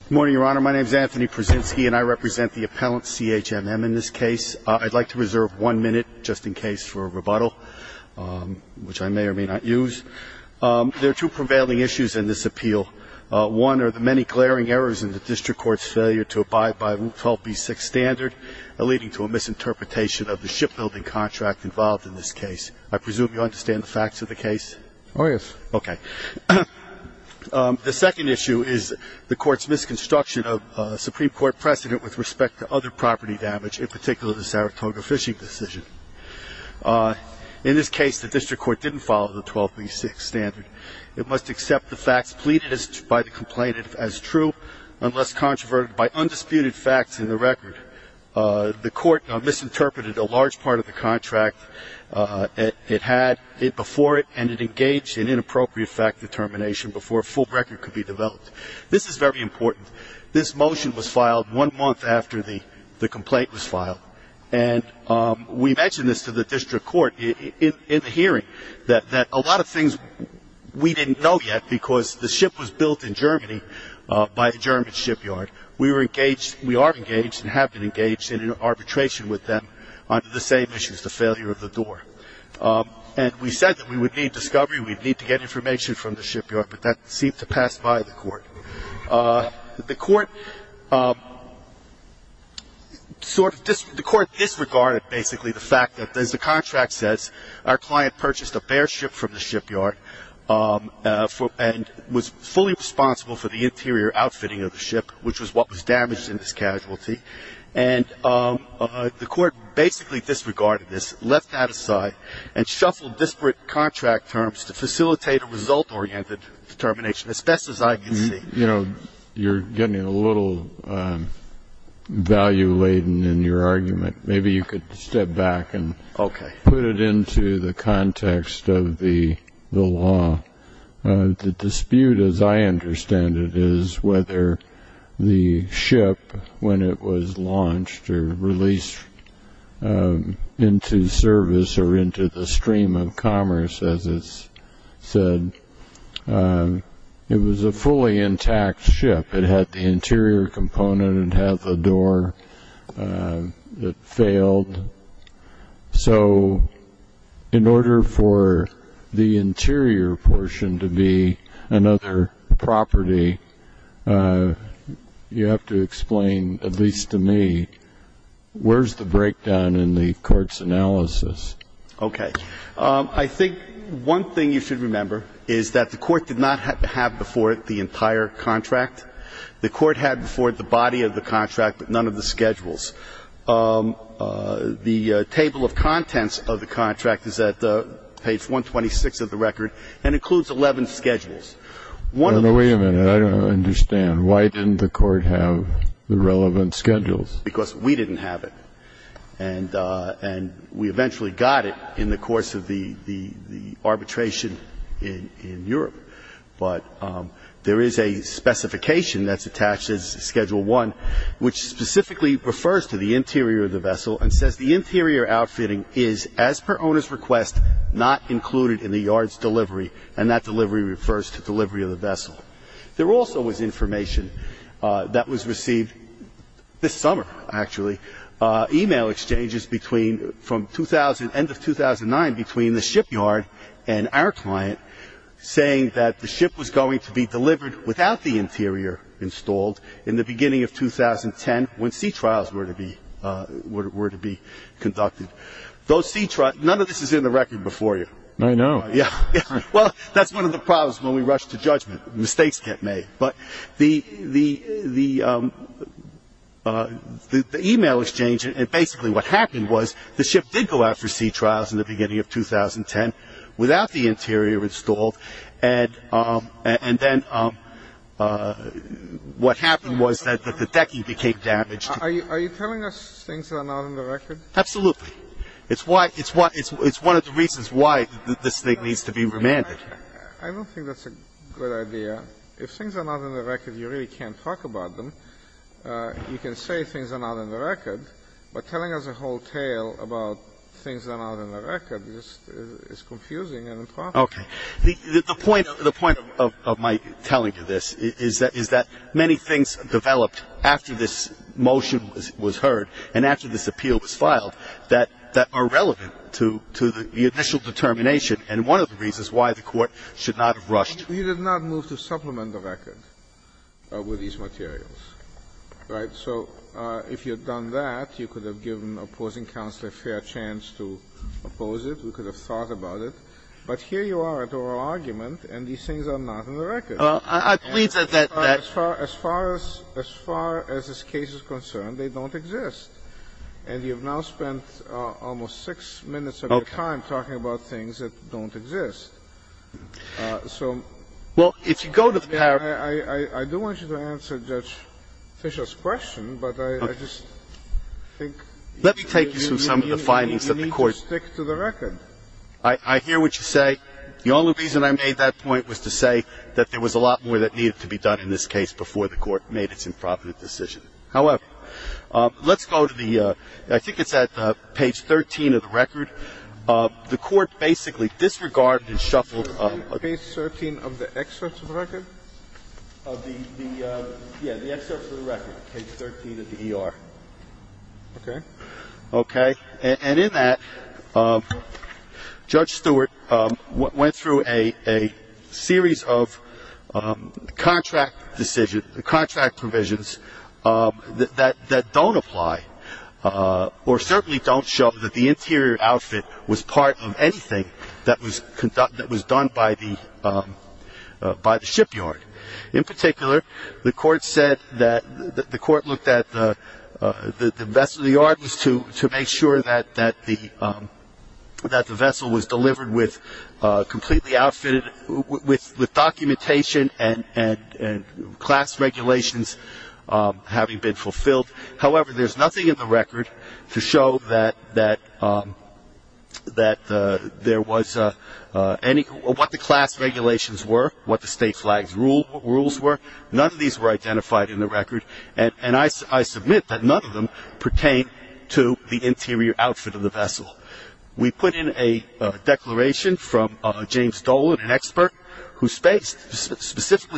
Good morning, Your Honor. My name is Anthony Pruszynski, and I represent the appellant, CHMM, in this case. I'd like to reserve one minute, just in case, for a rebuttal, which I may or may not use. There are two prevailing issues in this appeal. One are the many glaring errors in the district court's failure to abide by Rule 12b-6 standard, leading to a misinterpretation of the shipbuilding contract involved in this case. I presume you understand the facts of the case? Oh, yes. Okay. The second issue is the court's misconstruction of Supreme Court precedent with respect to other property damage, in particular the Saratoga fishing decision. In this case, the district court didn't follow the 12b-6 standard. It must accept the facts pleaded by the complainant as true unless controverted by undisputed facts in the record. The court misinterpreted a large part of the contract. It had it before it, and it engaged in inappropriate fact determination before a full record could be developed. This is very important. This motion was filed one month after the complaint was filed, and we mentioned this to the district court in the hearing, that a lot of things we didn't know yet because the ship was built in Germany by a German shipyard. We are engaged and have been engaged in an arbitration with them on the same issues, the failure of the door. And we said that we would need discovery, we'd need to get information from the shipyard, but that seemed to pass by the court. The court disregarded basically the fact that, as the contract says, our client purchased a bare ship from the shipyard and was fully responsible for the interior outfitting of the ship, which was what was damaged in this casualty. And the court basically disregarded this, left that aside, and shuffled disparate contract terms to facilitate a result-oriented determination, as best as I can see. You know, you're getting a little value-laden in your argument. Maybe you could step back and put it into the context of the law. The dispute, as I understand it, is whether the ship, when it was launched or released into service or into the stream of commerce, as it's said, it was a fully intact ship. It had the interior component, it had the door that failed. So in order for the interior portion to be another property, you have to explain, at least to me, where's the breakdown in the court's analysis? Okay. I think one thing you should remember is that the court did not have before it the entire contract. The court had before it the body of the contract but none of the schedules. The table of contents of the contract is at page 126 of the record and includes 11 schedules. One of the ones. Wait a minute. I don't understand. Why didn't the court have the relevant schedules? Because we didn't have it. And we eventually got it in the course of the arbitration in Europe. But there is a specification that's attached as Schedule I which specifically refers to the interior of the vessel and says the interior outfitting is, as per owner's request, not included in the yard's delivery, and that delivery refers to delivery of the vessel. There also was information that was received this summer, actually, email exchanges from end of 2009 between the shipyard and our client saying that the ship was going to be delivered without the interior installed in the beginning of 2010 when sea trials were to be conducted. None of this is in the record before you. I know. Well, that's one of the problems when we rush to judgment. Mistakes get made. But the email exchange and basically what happened was the ship did go out for sea trials in the beginning of 2010 without the interior installed, and then what happened was that the decking became damaged. Are you telling us things that are not in the record? Absolutely. It's one of the reasons why this thing needs to be remanded. I don't think that's a good idea. If things are not in the record, you really can't talk about them. You can say things are not in the record, but telling us a whole tale about things that are not in the record is confusing and improper. Okay. The point of my telling you this is that many things developed after this motion was heard and after this appeal was filed that are relevant to the initial determination and one of the reasons why the Court should not have rushed. You did not move to supplement the record with these materials. Right? So if you had done that, you could have given opposing counsel a fair chance to oppose it. We could have thought about it. But here you are at oral argument and these things are not in the record. I believe that that's fair. As far as this case is concerned, they don't exist. And you have now spent almost six minutes of your time talking about things that don't exist. So I do want you to answer Judge Fischer's question, but I just think you need to stick to the record. I hear what you say. The only reason I made that point was to say that there was a lot more that needed to be done in this case before the Court made its improper decision. However, let's go to the ‑‑ I think it's at page 13 of the record. The Court basically disregarded and shuffled ‑‑ Page 13 of the excerpt of the record? Yeah, the excerpt of the record, page 13 of the ER. Okay. Okay. And in that, Judge Stewart went through a series of contract decisions, contract provisions that don't apply or certainly don't show that the interior outfit was part of anything that was done by the shipyard. In particular, the Court said that the Court looked at the vessel of the Yardens to make sure that the vessel was delivered with completely outfitted, with documentation and class regulations having been fulfilled. However, there's nothing in the record to show that there was any ‑‑ what the class regulations were, what the state flags rules were. None of these were identified in the record, and I submit that none of them pertain to the interior outfit of the vessel. Specifically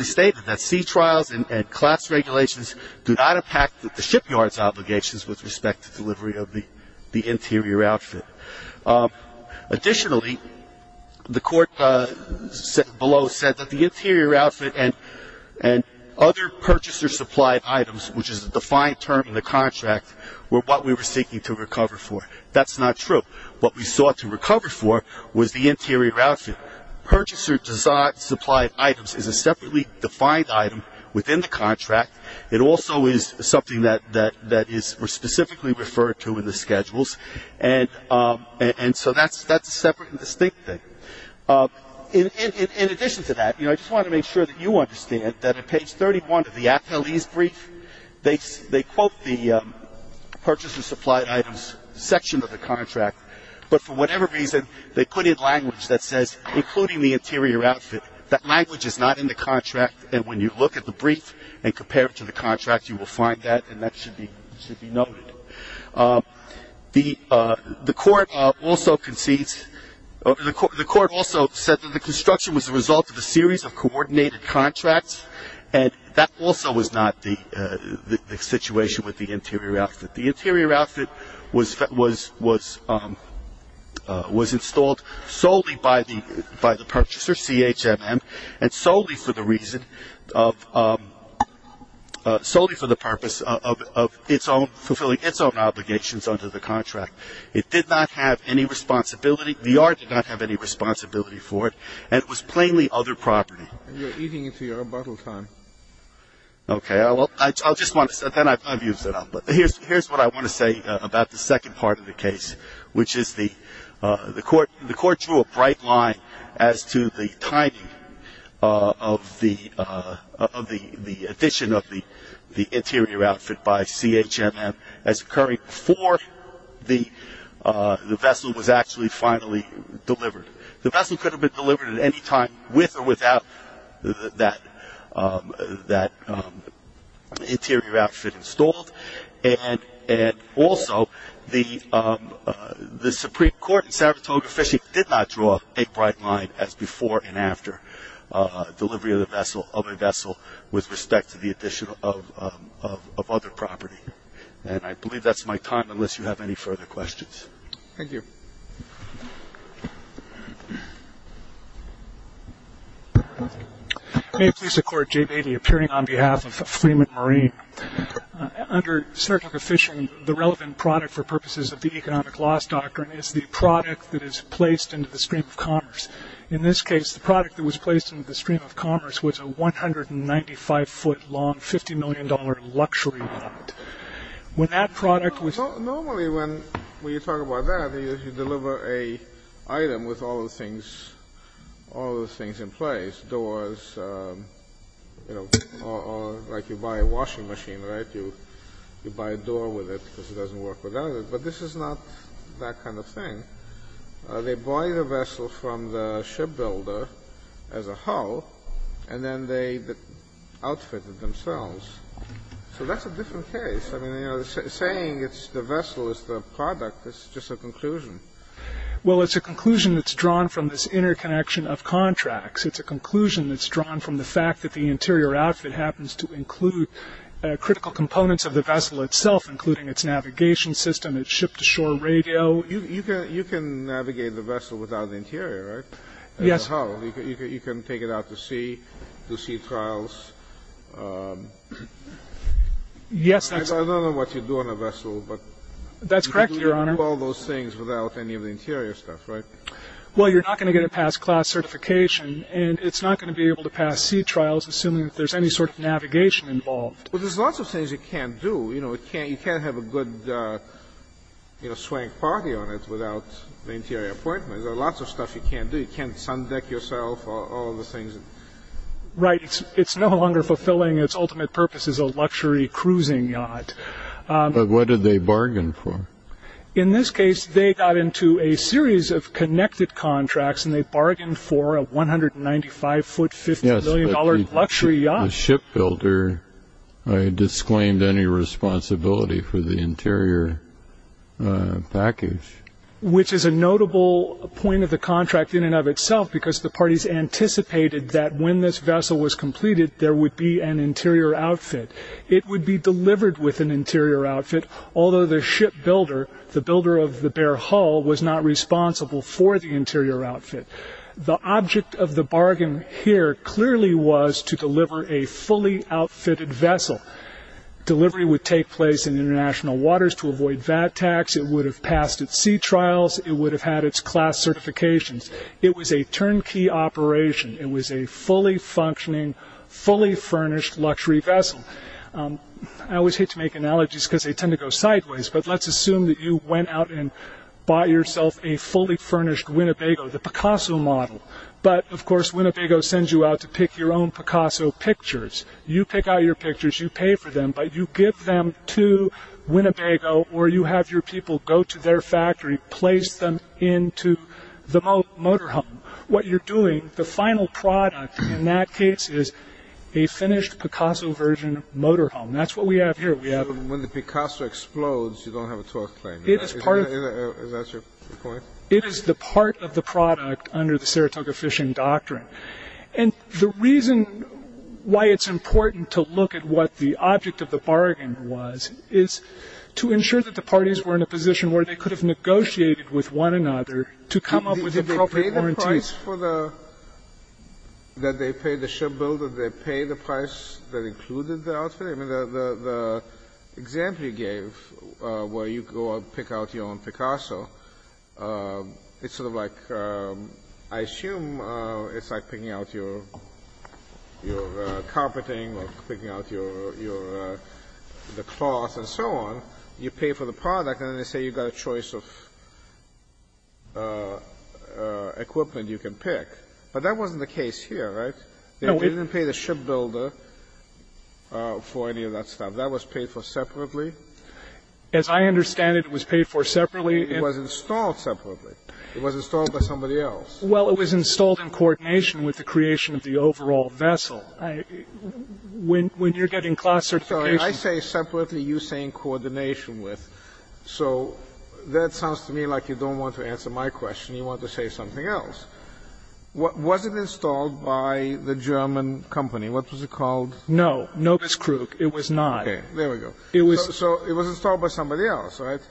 stated that sea trials and class regulations do not impact the shipyard's obligations with respect to delivery of the interior outfit. Additionally, the Court below said that the interior outfit and other purchaser supplied items, which is a defined term in the contract, were what we were seeking to recover for. That's not true. What we sought to recover for was the interior outfit. Purchaser supplied items is a separately defined item within the contract. It also is something that is specifically referred to in the schedules, and so that's a separate and distinct thing. In addition to that, I just want to make sure that you understand that on page 31 of the ateles brief, they quote the purchaser supplied items section of the contract, but for whatever reason, they put in language that says, including the interior outfit. That language is not in the contract, and when you look at the brief and compare it to the contract, you will find that, and that should be noted. The Court also concedes ‑‑ the Court also said that the construction was a result of a series of coordinated contracts, and that also was not the situation with the interior outfit. The interior outfit was installed solely by the purchaser, CHMM, and solely for the reason of ‑‑ solely for the purpose of fulfilling its own obligations under the contract. It did not have any responsibility. VR did not have any responsibility for it, and it was plainly other property. You're eating into your own bottle time. Okay. I'll just want to ‑‑ then I've used it up. But here's what I want to say about the second part of the case, which is the Court drew a bright line as to the timing of the addition of the interior outfit by CHMM as occurring before the vessel was actually finally delivered. The vessel could have been delivered at any time with or without that interior outfit installed, and also the Supreme Court in Saratoga Fishing did not draw a bright line as before and after delivery of a vessel with respect to the addition of other property. And I believe that's my time, unless you have any further questions. Thank you. May it please the Court, Jay Beatty, appearing on behalf of Freeman Marine. Under Saratoga Fishing, the relevant product for purposes of the economic loss doctrine is the product that is placed into the stream of commerce. In this case, the product that was placed into the stream of commerce was a 195‑foot‑long, $50 million luxury yacht. Normally, when you talk about that, you deliver an item with all the things in place, doors, or like you buy a washing machine, right? You buy a door with it because it doesn't work without it. But this is not that kind of thing. They buy the vessel from the shipbuilder as a whole, and then they outfit it themselves. So that's a different case. I mean, saying it's the vessel, it's the product, that's just a conclusion. Well, it's a conclusion that's drawn from this interconnection of contracts. It's a conclusion that's drawn from the fact that the interior outfit happens to include critical components of the vessel itself, including its navigation system, its ship‑to‑shore radio. You can navigate the vessel without the interior, right? Yes. I mean, how? You can take it out to sea, do sea trials. Yes, that's ‑‑ I don't know what you do on a vessel, but you can do all those things without any of the interior stuff, right? Well, you're not going to get a past class certification, and it's not going to be able to pass sea trials, assuming that there's any sort of navigation involved. Well, there's lots of things you can't do. You know, you can't have a good, you know, swank party on it without the interior appointments. There are lots of stuff you can't do. You can't sun deck yourself or all the things. Right. It's no longer fulfilling its ultimate purpose as a luxury cruising yacht. But what did they bargain for? In this case, they got into a series of connected contracts, and they bargained for a 195‑foot, $50 million luxury yacht. Yes, but the ship builder disclaimed any responsibility for the interior package. Which is a notable point of the contract in and of itself, because the parties anticipated that when this vessel was completed, there would be an interior outfit. It would be delivered with an interior outfit, although the ship builder, the builder of the Bear Hull, was not responsible for the interior outfit. The object of the bargain here clearly was to deliver a fully outfitted vessel. Delivery would take place in international waters to avoid VAT tax. It would have passed its sea trials. It would have had its class certifications. It was a turnkey operation. It was a fully functioning, fully furnished luxury vessel. I always hate to make analogies because they tend to go sideways, but let's assume that you went out and bought yourself a fully furnished Winnebago, the Picasso model. But, of course, Winnebago sends you out to pick your own Picasso pictures. You pick out your pictures. You pay for them. But you give them to Winnebago, or you have your people go to their factory, place them into the motorhome. What you're doing, the final product in that case is a finished Picasso version motorhome. That's what we have here. When the Picasso explodes, you don't have a torque plane. Is that your point? It is the part of the product under the Saratoga Fishing Doctrine. And the reason why it's important to look at what the object of the bargain was is to ensure that the parties were in a position where they could have negotiated with one another to come up with the appropriate warranties. Did they pay the price for the – that they paid the shipbuilder? Did they pay the price that included the outfit? I mean, the example you gave where you go out and pick out your own Picasso, it's sort of like – I assume it's like picking out your carpeting or picking out your cloth and so on. You pay for the product, and then they say you've got a choice of equipment you can pick. But that wasn't the case here, right? They didn't pay the shipbuilder for any of that stuff. That was paid for separately? As I understand it, it was paid for separately. It was installed separately. It was installed by somebody else. Well, it was installed in coordination with the creation of the overall vessel. When you're getting class certification – I say separately. You're saying coordination with. So that sounds to me like you don't want to answer my question. You want to say something else. Was it installed by the German company? What was it called? No. No, Ms. Krug. It was not. There we go. So it was installed by somebody else, right?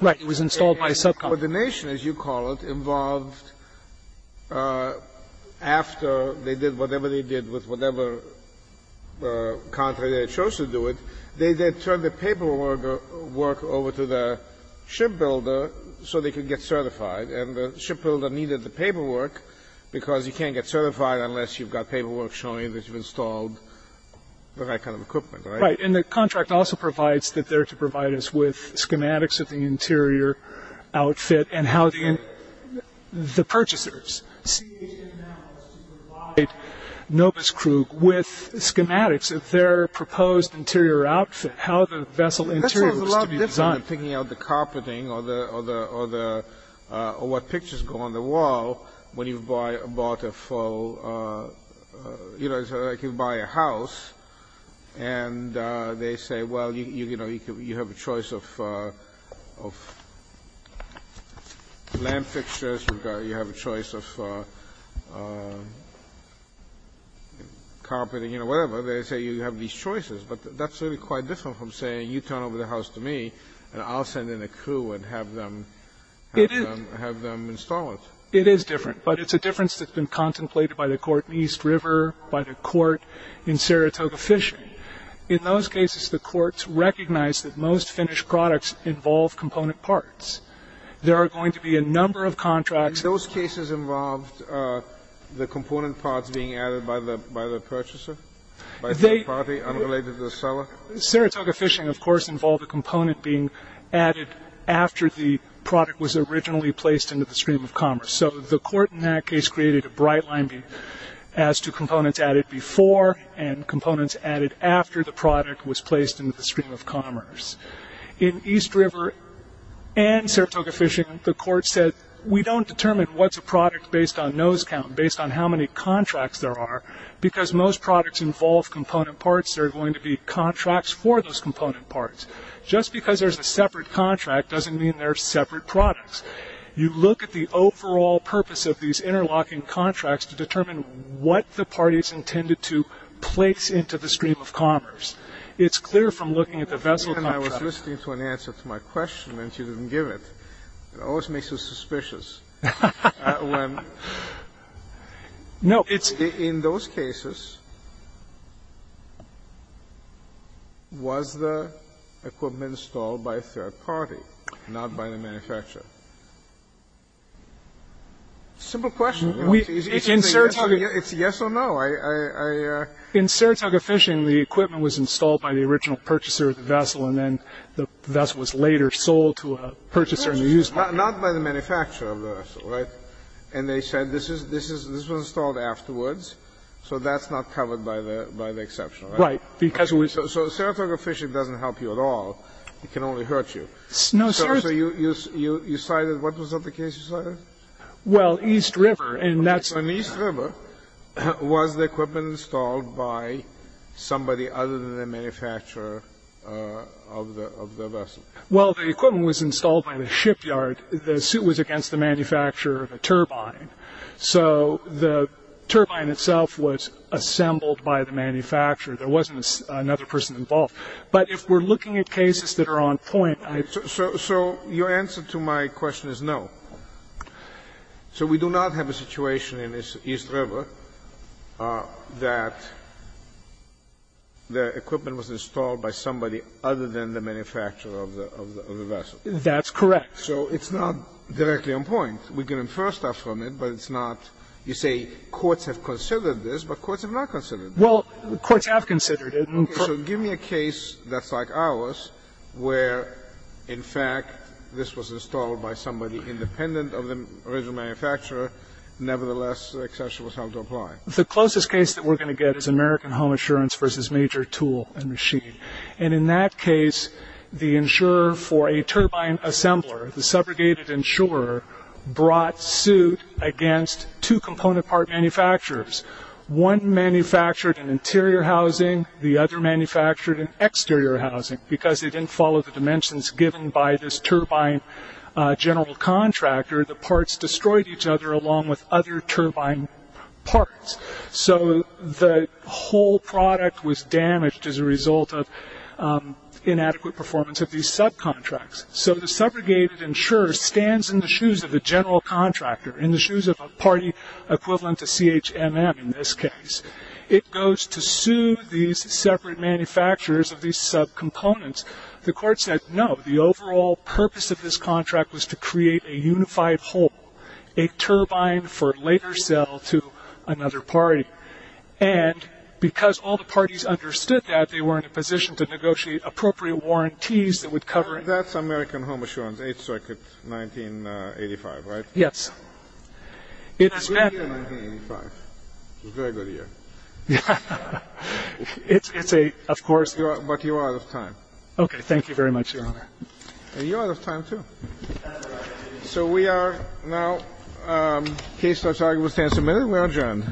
Right. It was installed by a subcompany. But coordination, as you call it, involved after they did whatever they did with whatever contract they chose to do it, they then turned the paperwork over to the shipbuilder so they could get certified. And the shipbuilder needed the paperwork because you can't get certified unless you've got paperwork showing that you've installed the right kind of equipment, right? Right. And the contract also provides that they're to provide us with schematics of the interior outfit and how the purchasers, CHML, to provide Novus Krug with schematics of their proposed interior outfit, how the vessel interior was to be designed. That sounds a lot different than picking out the carpeting or what pictures go on the wall when you've bought a full – you know, like you buy a house and they say, well, you know, you have a choice of lamp fixtures. You have a choice of carpeting, you know, whatever. They say you have these choices. But that's really quite different from saying you turn over the house to me and I'll send in a crew and have them install it. It is different. But it's a difference that's been contemplated by the court in East River, by the court in Saratoga Fishing. In those cases, the courts recognize that most finished products involve component parts. There are going to be a number of contracts. Those cases involved the component parts being added by the purchaser, by a third party unrelated to the seller? Saratoga Fishing, of course, involved a component being added after the product was originally placed into the stream of commerce. So the court in that case created a bright line as to components added before and components added after the product was placed into the stream of commerce. In East River and Saratoga Fishing, the court said we don't determine what's a product based on nose count, based on how many contracts there are, because most products involve component parts. There are going to be contracts for those component parts. Just because there's a separate contract doesn't mean there are separate products. You look at the overall purpose of these interlocking contracts to determine what the parties intended to place into the stream of commerce. It's clear from looking at the vessel contracts. Scalia, I was listening to an answer to my question and she didn't give it. It always makes you suspicious. In those cases, was the equipment installed by a third party, not by the manufacturer? Simple question. It's a yes or no. In Saratoga Fishing, the equipment was installed by the original purchaser of the vessel and then the vessel was later sold to a purchaser. Not by the manufacturer of the vessel, right? And they said this was installed afterwards, so that's not covered by the exception, right? Right. So Saratoga Fishing doesn't help you at all. It can only hurt you. No, seriously. So you cited, what was the other case you cited? Well, East River, and that's In East River, was the equipment installed by somebody other than the manufacturer of the vessel? Well, the equipment was installed by the shipyard. The suit was against the manufacturer of the turbine. So the turbine itself was assembled by the manufacturer. There wasn't another person involved. But if we're looking at cases that are on point, I So your answer to my question is no. So we do not have a situation in East River that the equipment was installed by somebody other than the manufacturer of the vessel. That's correct. So it's not directly on point. We can infer stuff from it, but it's not, you say courts have considered this, but courts have not considered this. Well, courts have considered it. Okay, so give me a case that's like ours where, in fact, this was installed by somebody independent of the original manufacturer. Nevertheless, the exception was held to apply. The closest case that we're going to get is American Home Assurance v. Major Tool and Machine. And in that case, the insurer for a turbine assembler, the subrogated insurer, brought suit against two component part manufacturers. One manufactured in interior housing. The other manufactured in exterior housing. Because they didn't follow the dimensions given by this turbine general contractor, the parts destroyed each other along with other turbine parts. So the whole product was damaged as a result of inadequate performance of these subcontracts. So the subrogated insurer stands in the shoes of the general contractor, in the shoes of a party equivalent to CHMM in this case. It goes to sue these separate manufacturers of these subcomponents. The court said, no, the overall purpose of this contract was to create a unified whole, a turbine for later sale to another party. And because all the parties understood that, they were in a position to negotiate appropriate warranties that would cover it. That's American Home Assurance, 8th Circuit, 1985, right? Yes. It's a good year, 1985. It's a very good year. It's a, of course. But you are out of time. Okay. Thank you very much, Your Honor. And you're out of time, too. So we are now, in case that argument stands a minute, we are adjourned.